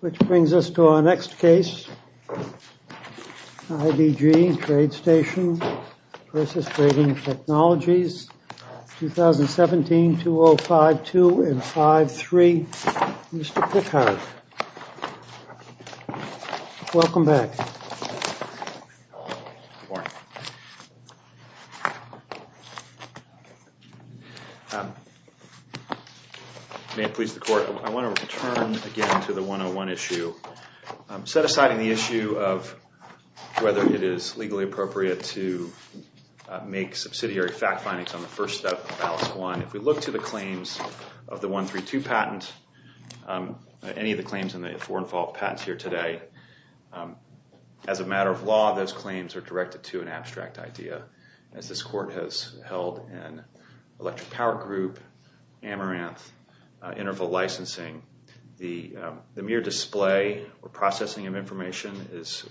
Which brings us to our next case, IBG Trade Station v. Trading Technologies, 2017-2052-5-3, Mr. Pickhard. Welcome back. Good morning. May it please the court, I want to return again to the 101 issue. Set aside in the issue of whether it is legally appropriate to make subsidiary fact findings on the first step, if we look to the claims of the 132 patent, any of the claims in the foreign fault patents here today, as a matter of law, those claims are directed to an abstract idea. As this court has held in Electric Power Group, Amaranth, Interval Licensing, the mere display or processing of information is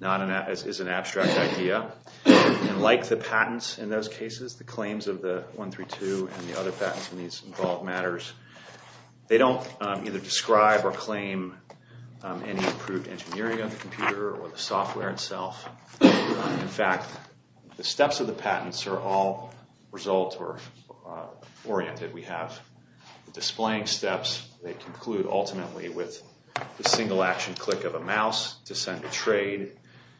an abstract idea. Like the patents in those cases, the claims of the 132 and the other patents in these involved matters, they don't either describe or claim any improved engineering of the computer or the software itself. In fact, the steps of the patents are all result-oriented. We have the displaying steps that conclude ultimately with the single action click of a mouse to send a trade.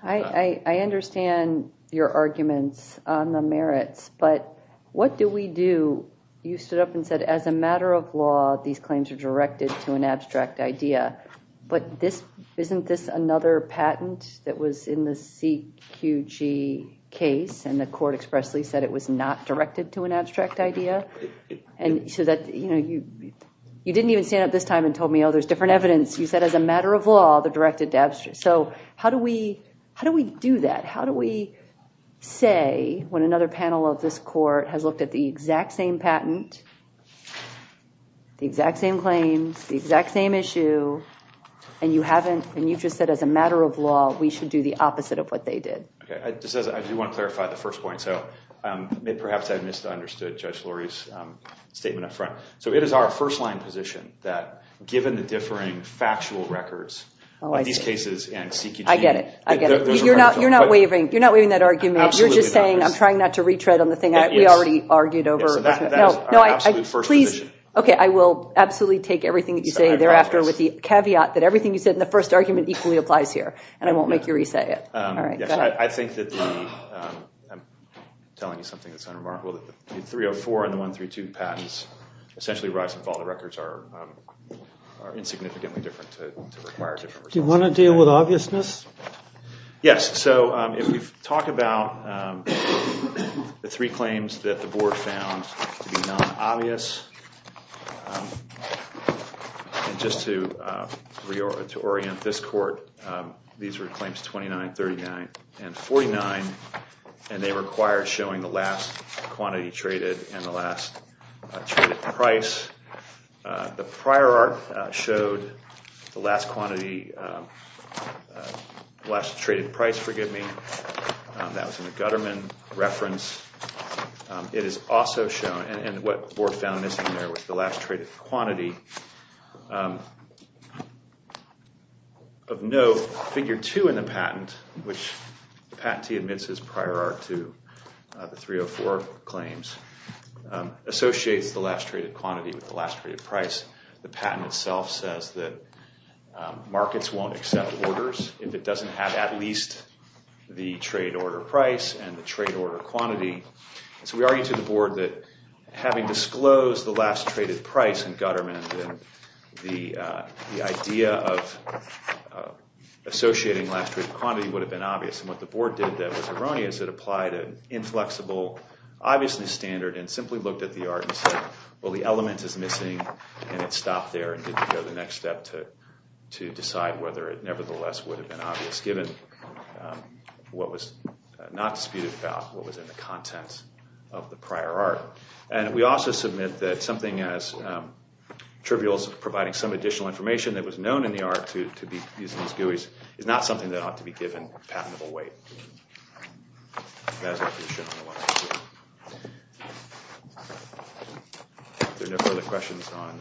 I understand your arguments on the merits, but what do we do? You stood up and said, as a matter of law, these claims are directed to an abstract idea. But isn't this another patent that was in the CQG case and the court expressly said it was not directed to an abstract idea? You didn't even stand up this time and tell me, oh, there's different evidence. You said, as a matter of law, they're directed to abstract. So how do we do that? How do we say, when another panel of this court has looked at the exact same patent, the exact same claims, the exact same issue, and you just said, as a matter of law, we should do the opposite of what they did? I do want to clarify the first point. So perhaps I misunderstood Judge Lurie's statement up front. So it is our first-line position that, given the differing factual records of these cases and CQG- I get it. I get it. You're not waiving that argument. Absolutely not. You're just saying I'm trying not to retread on the thing we already argued over. That is our absolute first position. Okay, I will absolutely take everything that you say thereafter with the caveat that everything you said in the first argument equally applies here. And I won't make you re-say it. All right, go ahead. I'm telling you something that's unremarkable. The 304 and the 132 patents essentially rise and fall. The records are insignificantly different to require different- Do you want to deal with obviousness? Yes, so if we talk about the three claims that the board found to be non-obvious, and just to orient this court, these were claims 29, 39, and 49, and they require showing the last quantity traded and the last traded price. The prior art showed the last quantity, last traded price, forgive me. That was in the Gutterman reference. It is also shown, and what the board found missing there was the last traded quantity. Of note, figure two in the patent, which the patentee admits is prior art to the 304 claims, associates the last traded quantity with the last traded price. The patent itself says that markets won't accept orders if it doesn't have at least the trade order price and the trade order quantity. So we argue to the board that having disclosed the last traded price in Gutterman, the idea of associating last traded quantity would have been obvious, and what the board did that was erroneous, it applied an inflexible obviousness standard and simply looked at the art and said, well, the element is missing, and it stopped there and didn't go the next step to decide whether it nevertheless would have been obvious, given what was not disputed about, what was in the content of the prior art. And we also submit that something as trivial as providing some additional information that was known in the art to be used in these GUIs is not something that ought to be given patentable weight. That is our position on the one-on-two. If there are no further questions on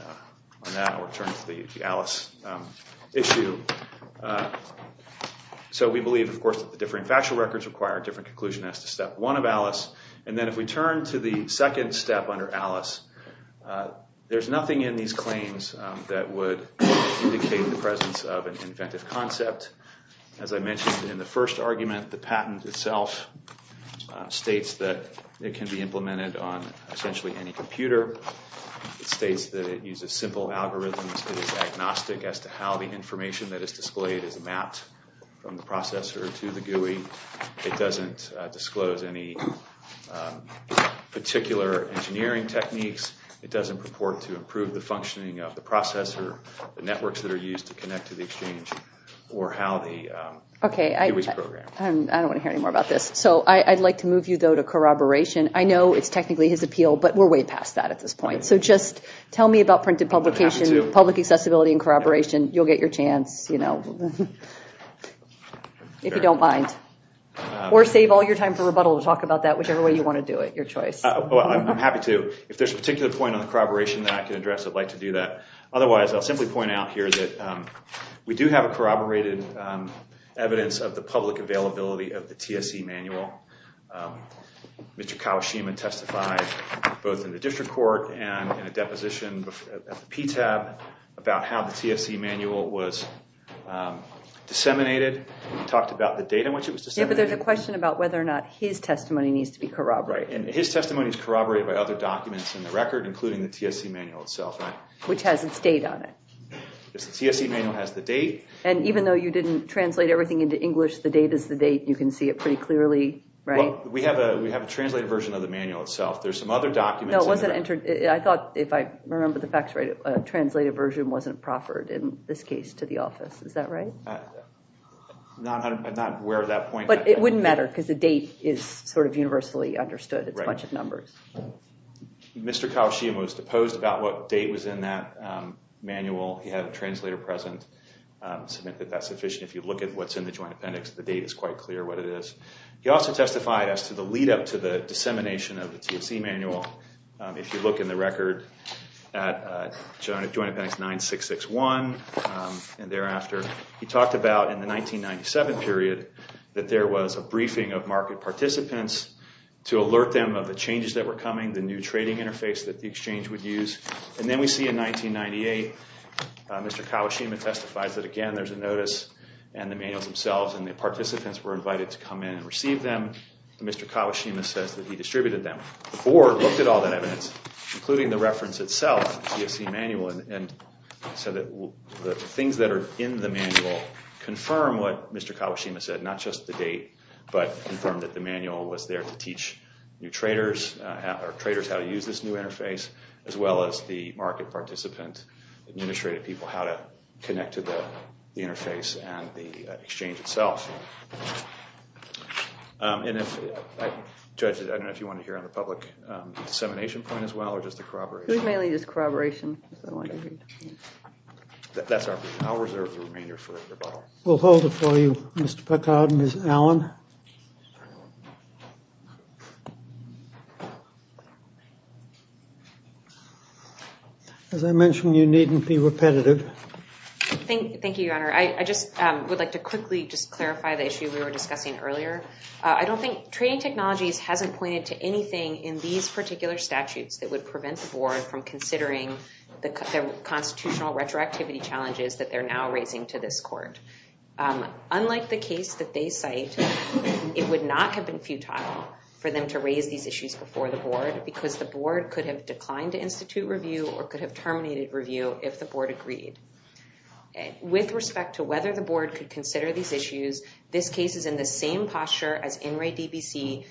that, I'll return to the Alice issue. So we believe, of course, that the differing factual records require a different conclusion as to step one of Alice. And then if we turn to the second step under Alice, there's nothing in these claims that would indicate the presence of an inventive concept. As I mentioned in the first argument, the patent itself states that it can be implemented on essentially any computer. It states that it uses simple algorithms. It is agnostic as to how the information that is displayed is mapped from the processor to the GUI. It doesn't disclose any particular engineering techniques. It doesn't purport to improve the functioning of the processor, the networks that are used to connect to the exchange, or how the GUIs program. Okay, I don't want to hear any more about this. So I'd like to move you, though, to corroboration. I know it's technically his appeal, but we're way past that at this point. So just tell me about printed publication, public accessibility, and corroboration. You'll get your chance, you know, if you don't mind. Or save all your time for rebuttal to talk about that whichever way you want to do it. Your choice. Well, I'm happy to. If there's a particular point on the corroboration that I can address, I'd like to do that. Otherwise, I'll simply point out here that we do have corroborated evidence of the public availability of the TSC manual. Mr. Kawashima testified both in the district court and in a deposition at the PTAB about how the TSC manual was disseminated. He talked about the data in which it was disseminated. Yeah, but there's a question about whether or not his testimony needs to be corroborated. Right, and his testimony is corroborated by other documents in the record, including the TSC manual itself. Which has its date on it. The TSC manual has the date. And even though you didn't translate everything into English, the date is the date. You can see it pretty clearly, right? Well, we have a translated version of the manual itself. There's some other documents. No, it wasn't entered. I thought, if I remember the facts right, a translated version wasn't proffered in this case to the office. Is that right? I'm not aware of that point. But it wouldn't matter because the date is sort of universally understood. It's a bunch of numbers. Mr. Kawashima was deposed about what date was in that manual. He had a translator present. Submit that that's sufficient. If you look at what's in the Joint Appendix, the date is quite clear what it is. He also testified as to the lead up to the dissemination of the TSC manual. If you look in the record at Joint Appendix 9661 and thereafter, he talked about in the 1997 period that there was a briefing of market participants to alert them of the changes that were coming, the new trading interface that the exchange would use. And then we see in 1998, Mr. Kawashima testifies that, again, there's a notice and the manuals themselves, and the participants were invited to come in and receive them. Mr. Kawashima says that he distributed them. The board looked at all that evidence, including the reference itself, the TSC manual, and said that the things that are in the manual confirm what Mr. Kawashima said, not just the date, but confirmed that the manual was there to teach traders how to use this new interface, as well as the market participant, administrative people, how to connect to the interface and the exchange itself. Judge, I don't know if you want to hear on the public dissemination point as well or just the corroboration. That's our brief. I'll reserve the remainder for rebuttal. We'll hold it for you, Mr. Picard and Ms. Allen. As I mentioned, you needn't be repetitive. Thank you, Your Honor. I just would like to quickly just clarify the issue we were discussing earlier. I don't think trading technologies hasn't pointed to anything in these particular statutes that would prevent the board from considering the constitutional retroactivity challenges that they're now raising to this court. Unlike the case that they cite, it would not have been futile for them to raise these issues before the board because the board could have declined to institute review or could have terminated review if the board agreed. With respect to whether the board could consider these issues, this case is in the same posture as In Re DBC,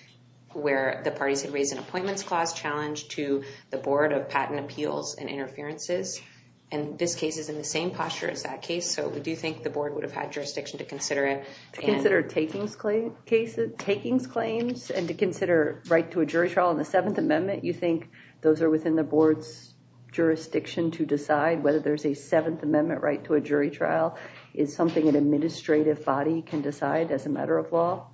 where the parties had raised an appointments clause challenge to the Board of Patent Appeals and Interferences. This case is in the same posture as that case, so we do think the board would have had jurisdiction to consider it. To consider takings claims and to consider right to a jury trial in the Seventh Amendment, you think those are within the board's jurisdiction to decide whether there's a Seventh Amendment right to a jury trial? Is something an administrative body can decide as a matter of law?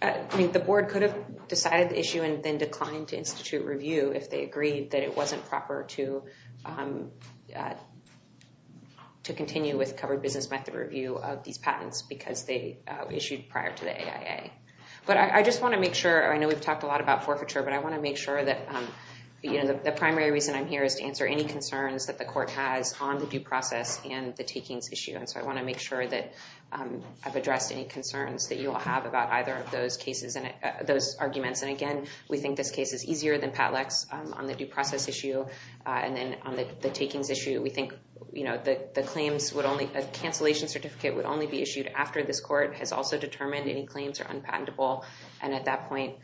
The board could have decided the issue and then declined to institute review if they agreed that it wasn't proper to continue with covered business method review of these patents because they issued prior to the AIA. I just want to make sure, I know we've talked a lot about forfeiture, but I want to make sure that the primary reason I'm here is to answer any concerns that the court has on the due process and the takings issue. I want to make sure that I've addressed any concerns that you all have about either of those cases and those arguments. Again, we think this case is easier than PATLEX on the due process issue and then on the takings issue. We think a cancellation certificate would only be issued after this court has also determined any claims are unpatentable. At that point,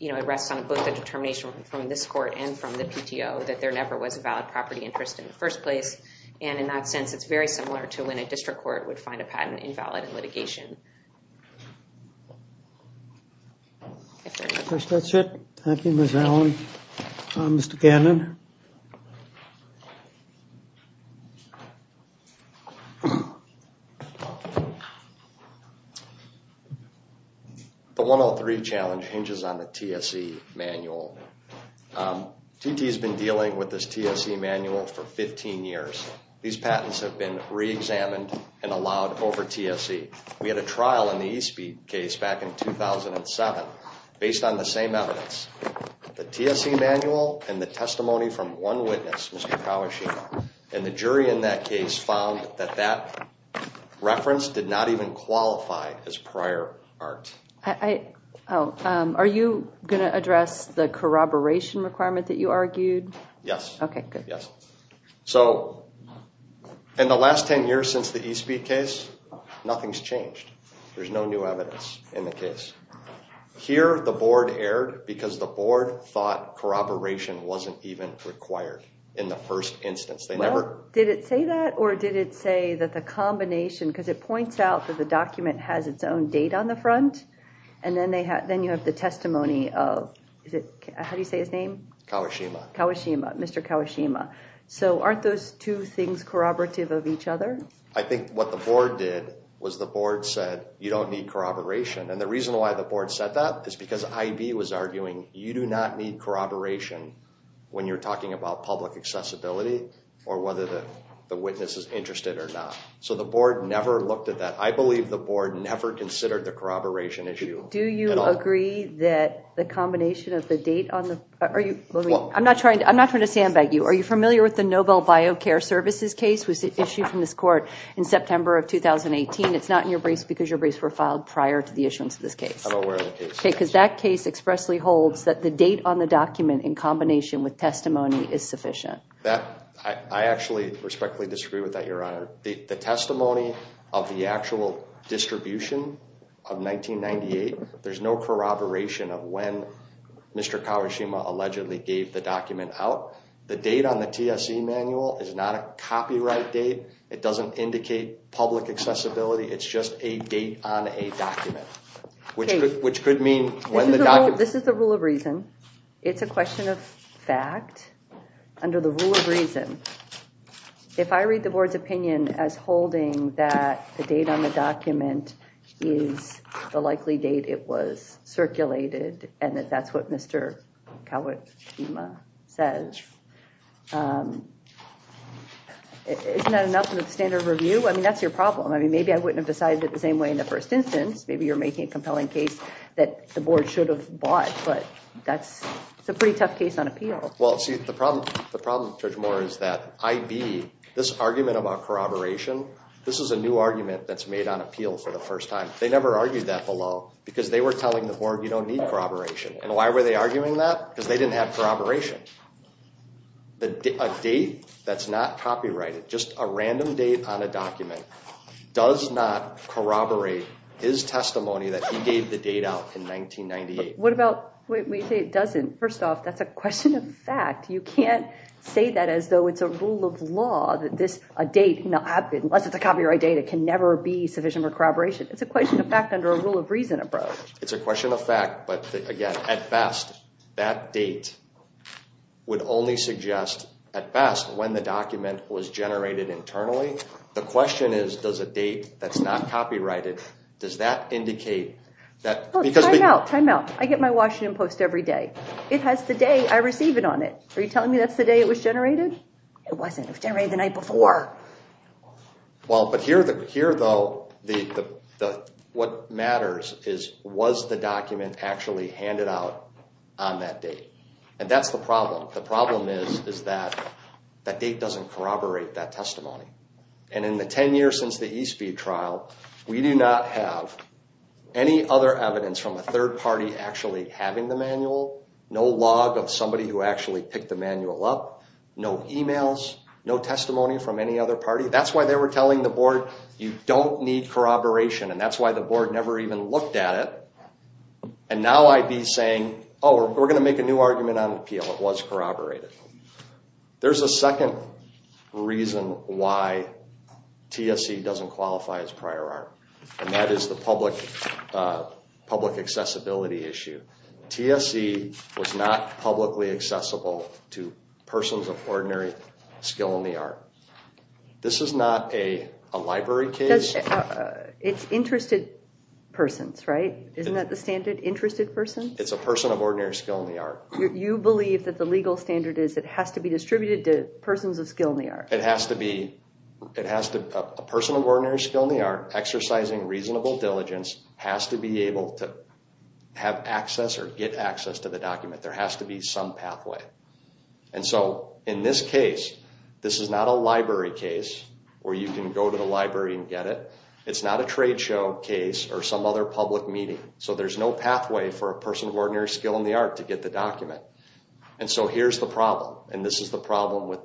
it rests on both the determination from this court and from the PTO that there never was a valid property interest in the first place. In that sense, it's very similar to when a district court would find a patent invalid in litigation. I think that's it. Thank you, Ms. Allen. Mr. Cannon? The 103 challenge hinges on the TSE manual. TT has been dealing with this TSE manual for 15 years. These patents have been re-examined and allowed over TSE. We had a trial in the Eastby case back in 2007 based on the same evidence. The TSE manual and the testimony from one witness, Mr. Kawashima, and the jury in that case found that that reference did not even qualify as prior art. Are you going to address the corroboration requirement that you argued? Yes. In the last 10 years since the Eastby case, nothing's changed. There's no new evidence in the case. Here, the board erred because the board thought corroboration wasn't even required in the first instance. Did it say that, or did it say that the combination... Because it points out that the document has its own date on the front, and then you have the testimony of... How do you say his name? Kawashima. Kawashima. Mr. Kawashima. Aren't those two things corroborative of each other? I think what the board did was the board said, you don't need corroboration. The reason why the board said that is because IB was arguing, you do not need corroboration when you're talking about public accessibility or whether the witness is interested or not. So the board never looked at that. I believe the board never considered the corroboration issue at all. Do you agree that the combination of the date on the... I'm not trying to sandbag you. Are you familiar with the Nobel Biocare Services case that was issued from this court in September of 2018? It's not in your briefs because your briefs were filed prior to the issuance of this case. I'm aware of the case. Okay, because that case expressly holds that the date on the document in combination with testimony is sufficient. I actually respectfully disagree with that, Your Honor. The testimony of the actual distribution of 1998, there's no corroboration of when Mr. Kawashima allegedly gave the document out. The date on the TSC manual is not a copyright date. It doesn't indicate public accessibility. It's just a date on a document, which could mean... This is the rule of reason. It's a question of fact under the rule of reason. If I read the board's opinion as holding that the date on the document is the likely date it was circulated and that that's what Mr. Kawashima says, isn't that enough of a standard review? I mean, that's your problem. I mean, maybe I wouldn't have decided it the same way in the first instance. Maybe you're making a compelling case that the board should have bought, but that's a pretty tough case on appeal. Well, see, the problem, Judge Moore, is that IB, this argument about corroboration, this is a new argument that's made on appeal for the first time. They never argued that below because they were telling the board, you don't need corroboration. And why were they arguing that? Because they didn't have corroboration. A date that's not copyrighted, just a random date on a document, does not corroborate his testimony that he gave the date out in 1998. What about when you say it doesn't? First off, that's a question of fact. You can't say that as though it's a rule of law that this date, unless it's a copyright date, it can never be sufficient for corroboration. It's a question of fact under a rule of reason approach. It's a question of fact. But, again, at best, that date would only suggest, at best, when the document was generated internally. The question is, does a date that's not copyrighted, does that indicate that Time out, time out. I get my Washington Post every day. It has the day I receive it on it. Are you telling me that's the day it was generated? It wasn't. It was generated the night before. Well, but here, though, what matters is, was the document actually handed out on that date? And that's the problem. The problem is that that date doesn't corroborate that testimony. And in the 10 years since the Eastby trial, we do not have any other evidence from a third party actually having the manual, no log of somebody who actually picked the manual up, no emails, no testimony from any other party. That's why they were telling the board, you don't need corroboration, and that's why the board never even looked at it. And now I'd be saying, oh, we're going to make a new argument on appeal. It was corroborated. There's a second reason why TSE doesn't qualify as prior art, and that is the public accessibility issue. TSE was not publicly accessible to persons of ordinary skill in the art. This is not a library case. It's interested persons, right? Isn't that the standard, interested persons? It's a person of ordinary skill in the art. You believe that the legal standard is it has to be distributed to persons of skill in the art. It has to be. A person of ordinary skill in the art exercising reasonable diligence has to be able to have access or get access to the document. There has to be some pathway. And so in this case, this is not a library case where you can go to the library and get it. It's not a trade show case or some other public meeting. So there's no pathway for a person of ordinary skill in the art to get the document. And so here's the problem, and this is the problem with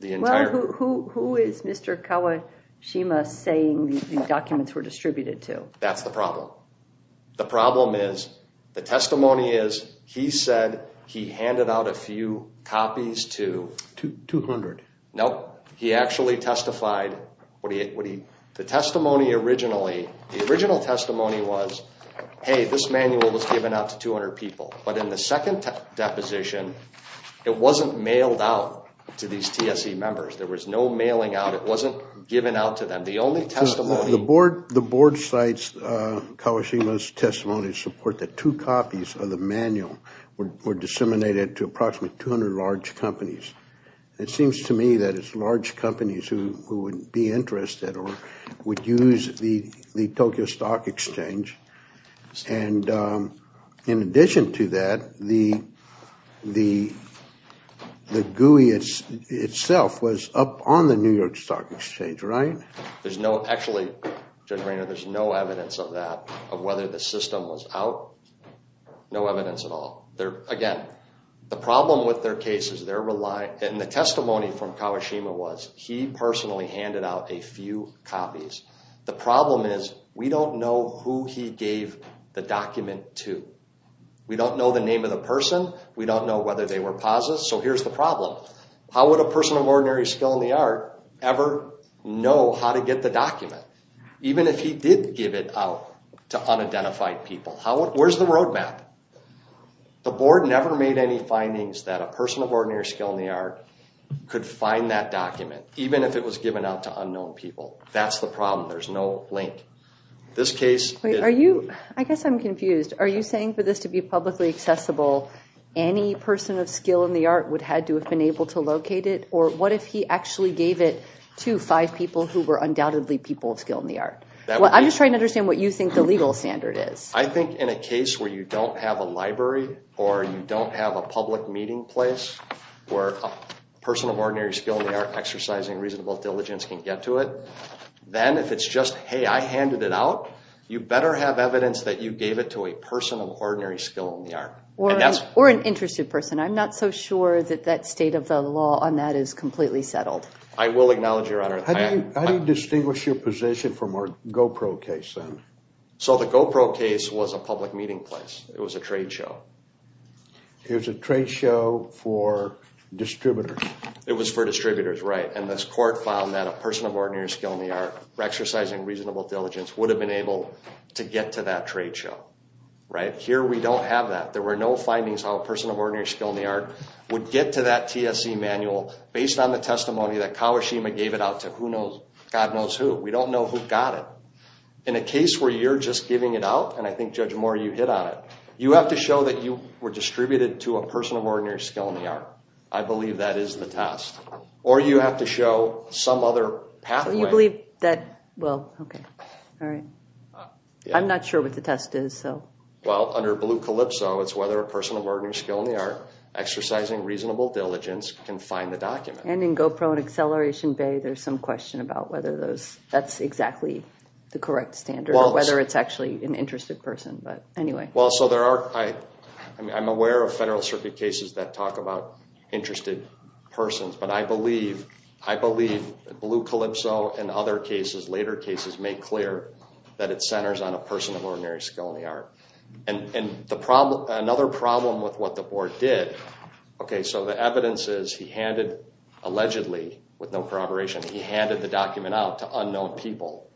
the entire group. Well, who is Mr. Kawashima saying the documents were distributed to? That's the problem. The problem is the testimony is he said he handed out a few copies to... 200. No, he actually testified. The testimony originally, the original testimony was, hey, this manual was given out to 200 people. But in the second deposition, it wasn't mailed out to these TSE members. There was no mailing out. It wasn't given out to them. The only testimony... The board cites Kawashima's testimony to support that two copies of the manual were disseminated to approximately 200 large companies. It seems to me that it's large companies who would be interested or would use the Tokyo Stock Exchange. And in addition to that, the GUI itself was up on the New York Stock Exchange, right? Actually, Judge Raynor, there's no evidence of that, of whether the system was out. No evidence at all. Again, the problem with their case is they're relying... And the testimony from Kawashima was he personally handed out a few copies. The problem is we don't know who he gave the document to. We don't know the name of the person. We don't know whether they were posits. So here's the problem. How would a person of ordinary skill in the art ever know how to get the document, even if he did give it out to unidentified people? Where's the roadmap? The board never made any findings that a person of ordinary skill in the art could find that document, even if it was given out to unknown people. That's the problem. There's no link. This case... Wait, are you... I guess I'm confused. Are you saying for this to be publicly accessible, any person of skill in the art would have had to have been able to locate it? Or what if he actually gave it to five people who were undoubtedly people of skill in the art? I'm just trying to understand what you think the legal standard is. I think in a case where you don't have a library or you don't have a public meeting place where a person of ordinary skill in the art exercising reasonable diligence can get to it, then if it's just, hey, I handed it out, you better have evidence that you gave it to a person of ordinary skill in the art. Or an interested person. I'm not so sure that that state of the law on that is completely settled. I will acknowledge your honor. How do you distinguish your position from our GoPro case then? So the GoPro case was a public meeting place. It was a trade show. It was a trade show for distributors. It was for distributors, right. And this court found that a person of ordinary skill in the art exercising reasonable diligence would have been able to get to that trade show. Right. Here we don't have that. There were no findings how a person of ordinary skill in the art would get to that TSC manual based on the testimony that Kawashima gave it out to who knows, God knows who. We don't know who got it. In a case where you're just giving it out, and I think, Judge Moore, you hit on it, you have to show that you were distributed to a person of ordinary skill in the art. I believe that is the test. Or you have to show some other pathway. You believe that, well, okay. All right. I'm not sure what the test is. Well, under Blue Calypso, it's whether a person of ordinary skill in the art exercising reasonable diligence can find the document. And in GoPro and Acceleration Bay, there's some question about whether that's exactly the correct standard or whether it's actually an interested person. But anyway. Well, so I'm aware of Federal Circuit cases that talk about interested persons. But I believe Blue Calypso and other cases, later cases, make clear that it centers on a person of ordinary skill in the art. And another problem with what the board did, okay, so the evidence is he handed, allegedly, with no corroboration, he handed the document out to unknown people.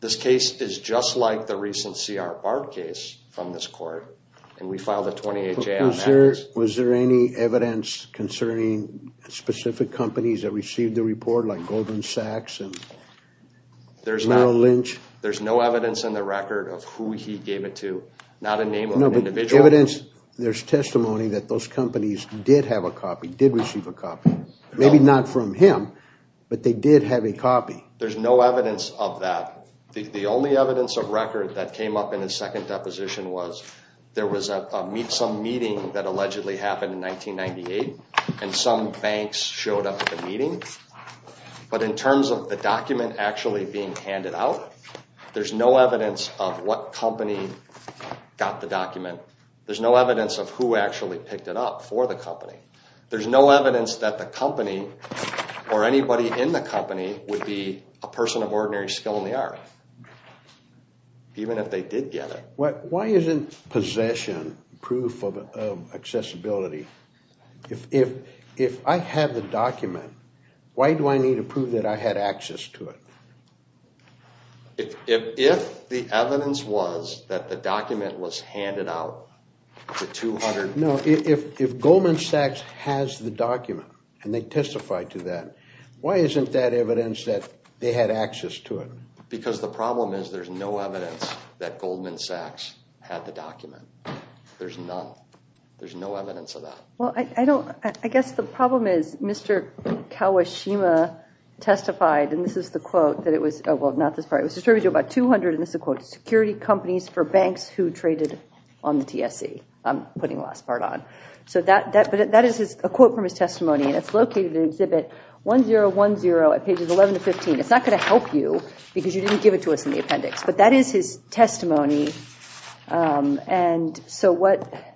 This case is just like the recent C.R. Bard case from this court. And we filed a 28-J on that case. Was there any evidence concerning specific companies that received the report like Goldman Sachs and Merrill Lynch? There's no evidence in the record of who he gave it to. Not a name of an individual. There's testimony that those companies did have a copy, did receive a copy. Maybe not from him, but they did have a copy. There's no evidence of that. The only evidence of record that came up in his second deposition was there was some meeting that allegedly happened in 1998, and some banks showed up at the meeting. But in terms of the document actually being handed out, there's no evidence of what company got the document. There's no evidence of who actually picked it up for the company. There's no evidence that the company, or anybody in the company, would be a person of ordinary skill in the art. Even if they did get it. Why isn't possession proof of accessibility? If I had the document, why do I need to prove that I had access to it? If the evidence was that the document was handed out, the 200 Goldman Sachs has the document, and they testified to that. Why isn't that evidence that they had access to it? Because the problem is there's no evidence that Goldman Sachs had the document. There's none. There's no evidence of that. I guess the problem is Mr. Kawashima testified, and this is the quote, that it was distributed to about 200 and this is the quote, security companies for banks who traded on the TSC. I'm putting the last part on. So that is a quote from his testimony, and it's located in Exhibit 1010 at pages 11 to 15. It's not going to help you, because you didn't give it to us in the appendix. But that is his testimony, and so what...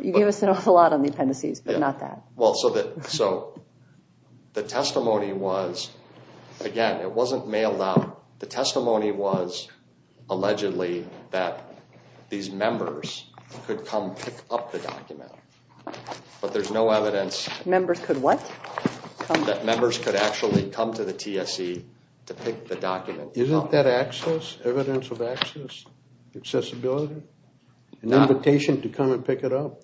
You gave us an awful lot on the appendices, but not that. Well, so the testimony was, again, it wasn't mailed out. The testimony was allegedly that these members could come pick up the document. But there's no evidence... Members could what? That members could actually come to the TSC to pick the document up. Isn't that access, evidence of access, accessibility, an invitation to come and pick it up?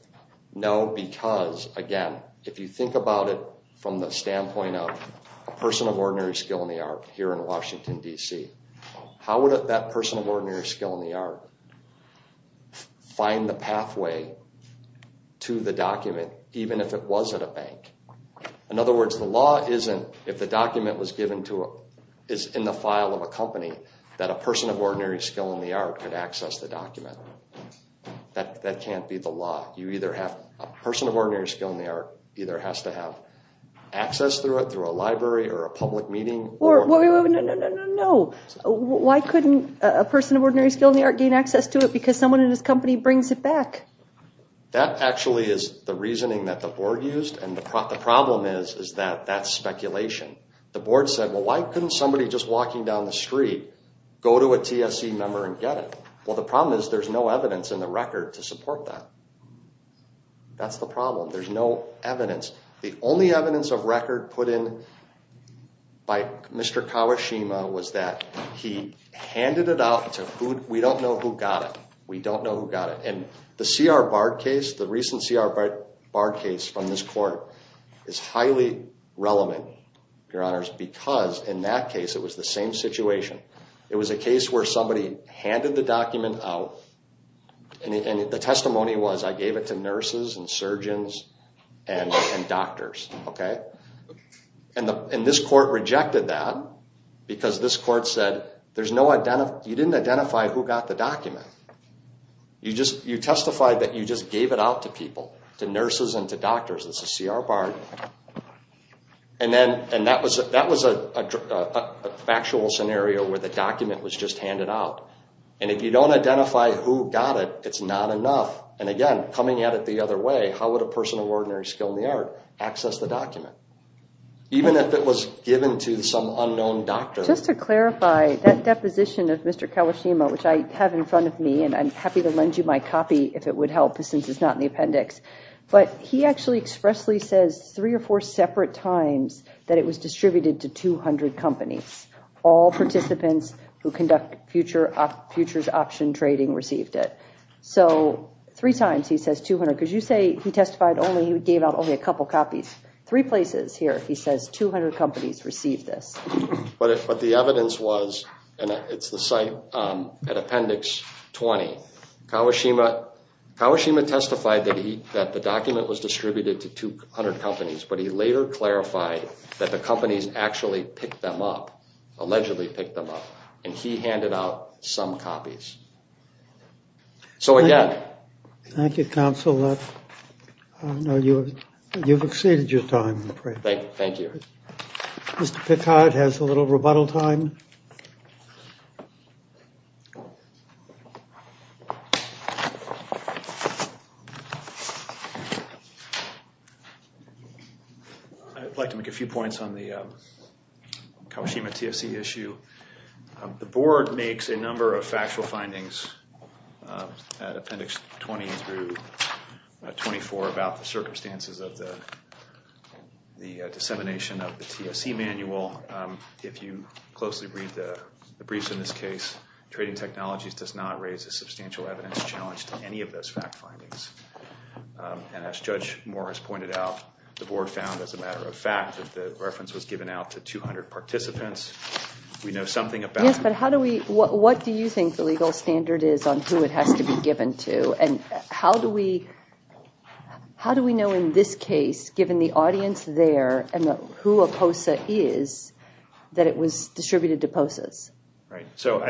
No, because, again, if you think about it from the standpoint of a person of ordinary skill in the art here in Washington, D.C., how would that person of ordinary skill in the art find the pathway to the document, even if it was at a bank? In other words, the law isn't, if the document was given to a... is in the file of a company, that a person of ordinary skill in the art could access the document. That can't be the law. You either have... A person of ordinary skill in the art either has to have access through it, through a library or a public meeting... No, no, no, no, no, no. Why couldn't a person of ordinary skill in the art gain access to it because someone in his company brings it back? That actually is the reasoning that the board used, and the problem is that that's speculation. The board said, well, why couldn't somebody just walking down the street go to a TSC member and get it? Well, the problem is there's no evidence in the record to support that. That's the problem. There's no evidence. The only evidence of record put in by Mr. Kawashima was that he handed it out to who... We don't know who got it. We don't know who got it. And the C.R. Bard case, the recent C.R. Bard case from this court, is highly relevant, Your Honors, because in that case it was the same situation. It was a case where somebody handed the document out, and the testimony was, I gave it to nurses and surgeons and doctors, okay? And this court rejected that because this court said, you didn't identify who got the document. You testified that you just gave it out to people, to nurses and to doctors. That's the C.R. Bard. And that was a factual scenario where the document was just handed out. And if you don't identify who got it, it's not enough. And, again, coming at it the other way, how would a person of ordinary skill in the art access the document, even if it was given to some unknown doctor? Just to clarify, that deposition of Mr. Kawashima, which I have in front of me, and I'm happy to lend you my copy if it would help since it's not in the appendix, but he actually expressly says three or four separate times that it was distributed to 200 companies. All participants who conduct futures option trading received it. So three times he says 200, because you say he testified only he gave out only a couple copies. Three places here he says 200 companies received this. But the evidence was, and it's the site at Appendix 20, Kawashima testified that the document was distributed to 200 companies, but he later clarified that the companies actually picked them up, allegedly picked them up, and he handed out some copies. So, again. Thank you, counsel. You've exceeded your time. Thank you. Mr. Picard has a little rebuttal time. I'd like to make a few points on the Kawashima TFC issue. The board makes a number of factual findings at Appendix 20 through 24 about the circumstances of the dissemination of the TFC manual. If you closely read the briefs in this case, trading technologies does not raise a substantial evidence challenge to any of those fact findings. And as Judge Morris pointed out, the board found, as a matter of fact, that the reference was given out to 200 participants. We know something about it. Yes, but what do you think the legal standard is on who it has to be given to? And how do we know in this case, given the audience there and who a POSA is, that it was distributed to POSAs? Right. So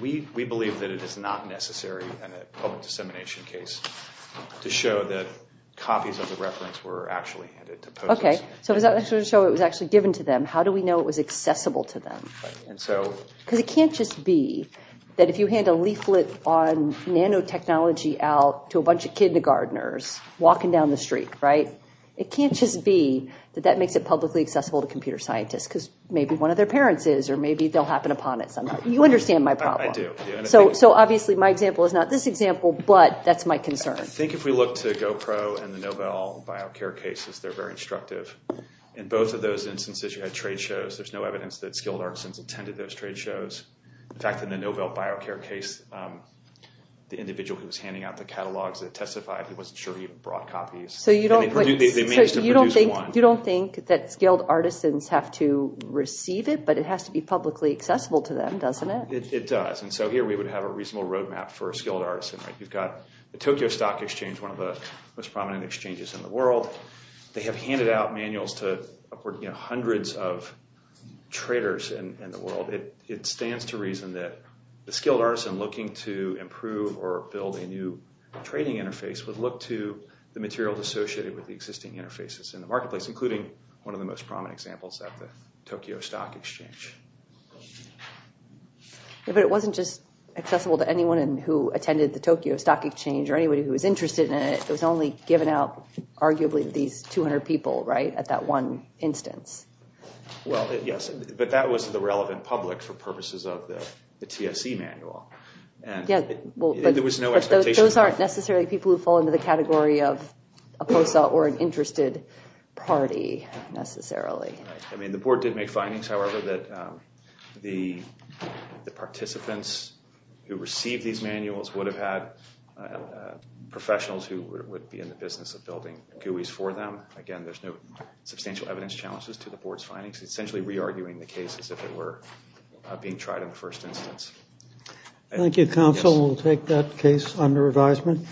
we believe that it is not necessary in a public dissemination case to show that copies of the reference were actually handed to POSAs. Okay. So it was actually given to them. How do we know it was accessible to them? Because it can't just be that if you hand a leaflet on nanotechnology out to a bunch of kindergartners walking down the street, right? It can't just be that that makes it publicly accessible to computer scientists, because maybe one of their parents is, or maybe they'll happen upon it somehow. You understand my problem. I do. So obviously my example is not this example, but that's my concern. I think if we look to GoPro and the Novell BioCare cases, they're very instructive. In both of those instances, you had trade shows. There's no evidence that skilled artisans attended those trade shows. In fact, in the Novell BioCare case, the individual who was handing out the catalogs that testified, he wasn't sure he even brought copies. So you don't think— They managed to produce one. But it has to be publicly accessible to them, doesn't it? It does. And so here we would have a reasonable roadmap for a skilled artisan. You've got the Tokyo Stock Exchange, one of the most prominent exchanges in the world. They have handed out manuals to hundreds of traders in the world. It stands to reason that the skilled artisan looking to improve or build a new trading interface would look to the materials associated with the existing interfaces in the marketplace, including one of the most prominent examples at the Tokyo Stock Exchange. But it wasn't just accessible to anyone who attended the Tokyo Stock Exchange or anybody who was interested in it. It was only given out, arguably, to these 200 people, right, at that one instance. Well, yes. But that was the relevant public for purposes of the TSE manual. But those aren't necessarily people who fall into the category of a POSA or an interested party, necessarily. I mean, the board did make findings, however, that the participants who received these manuals would have had professionals who would be in the business of building GUIs for them. Again, there's no substantial evidence challenges to the board's findings. It's essentially re-arguing the case as if it were being tried in the first instance. Thank you, counsel. We'll take that case under advisement.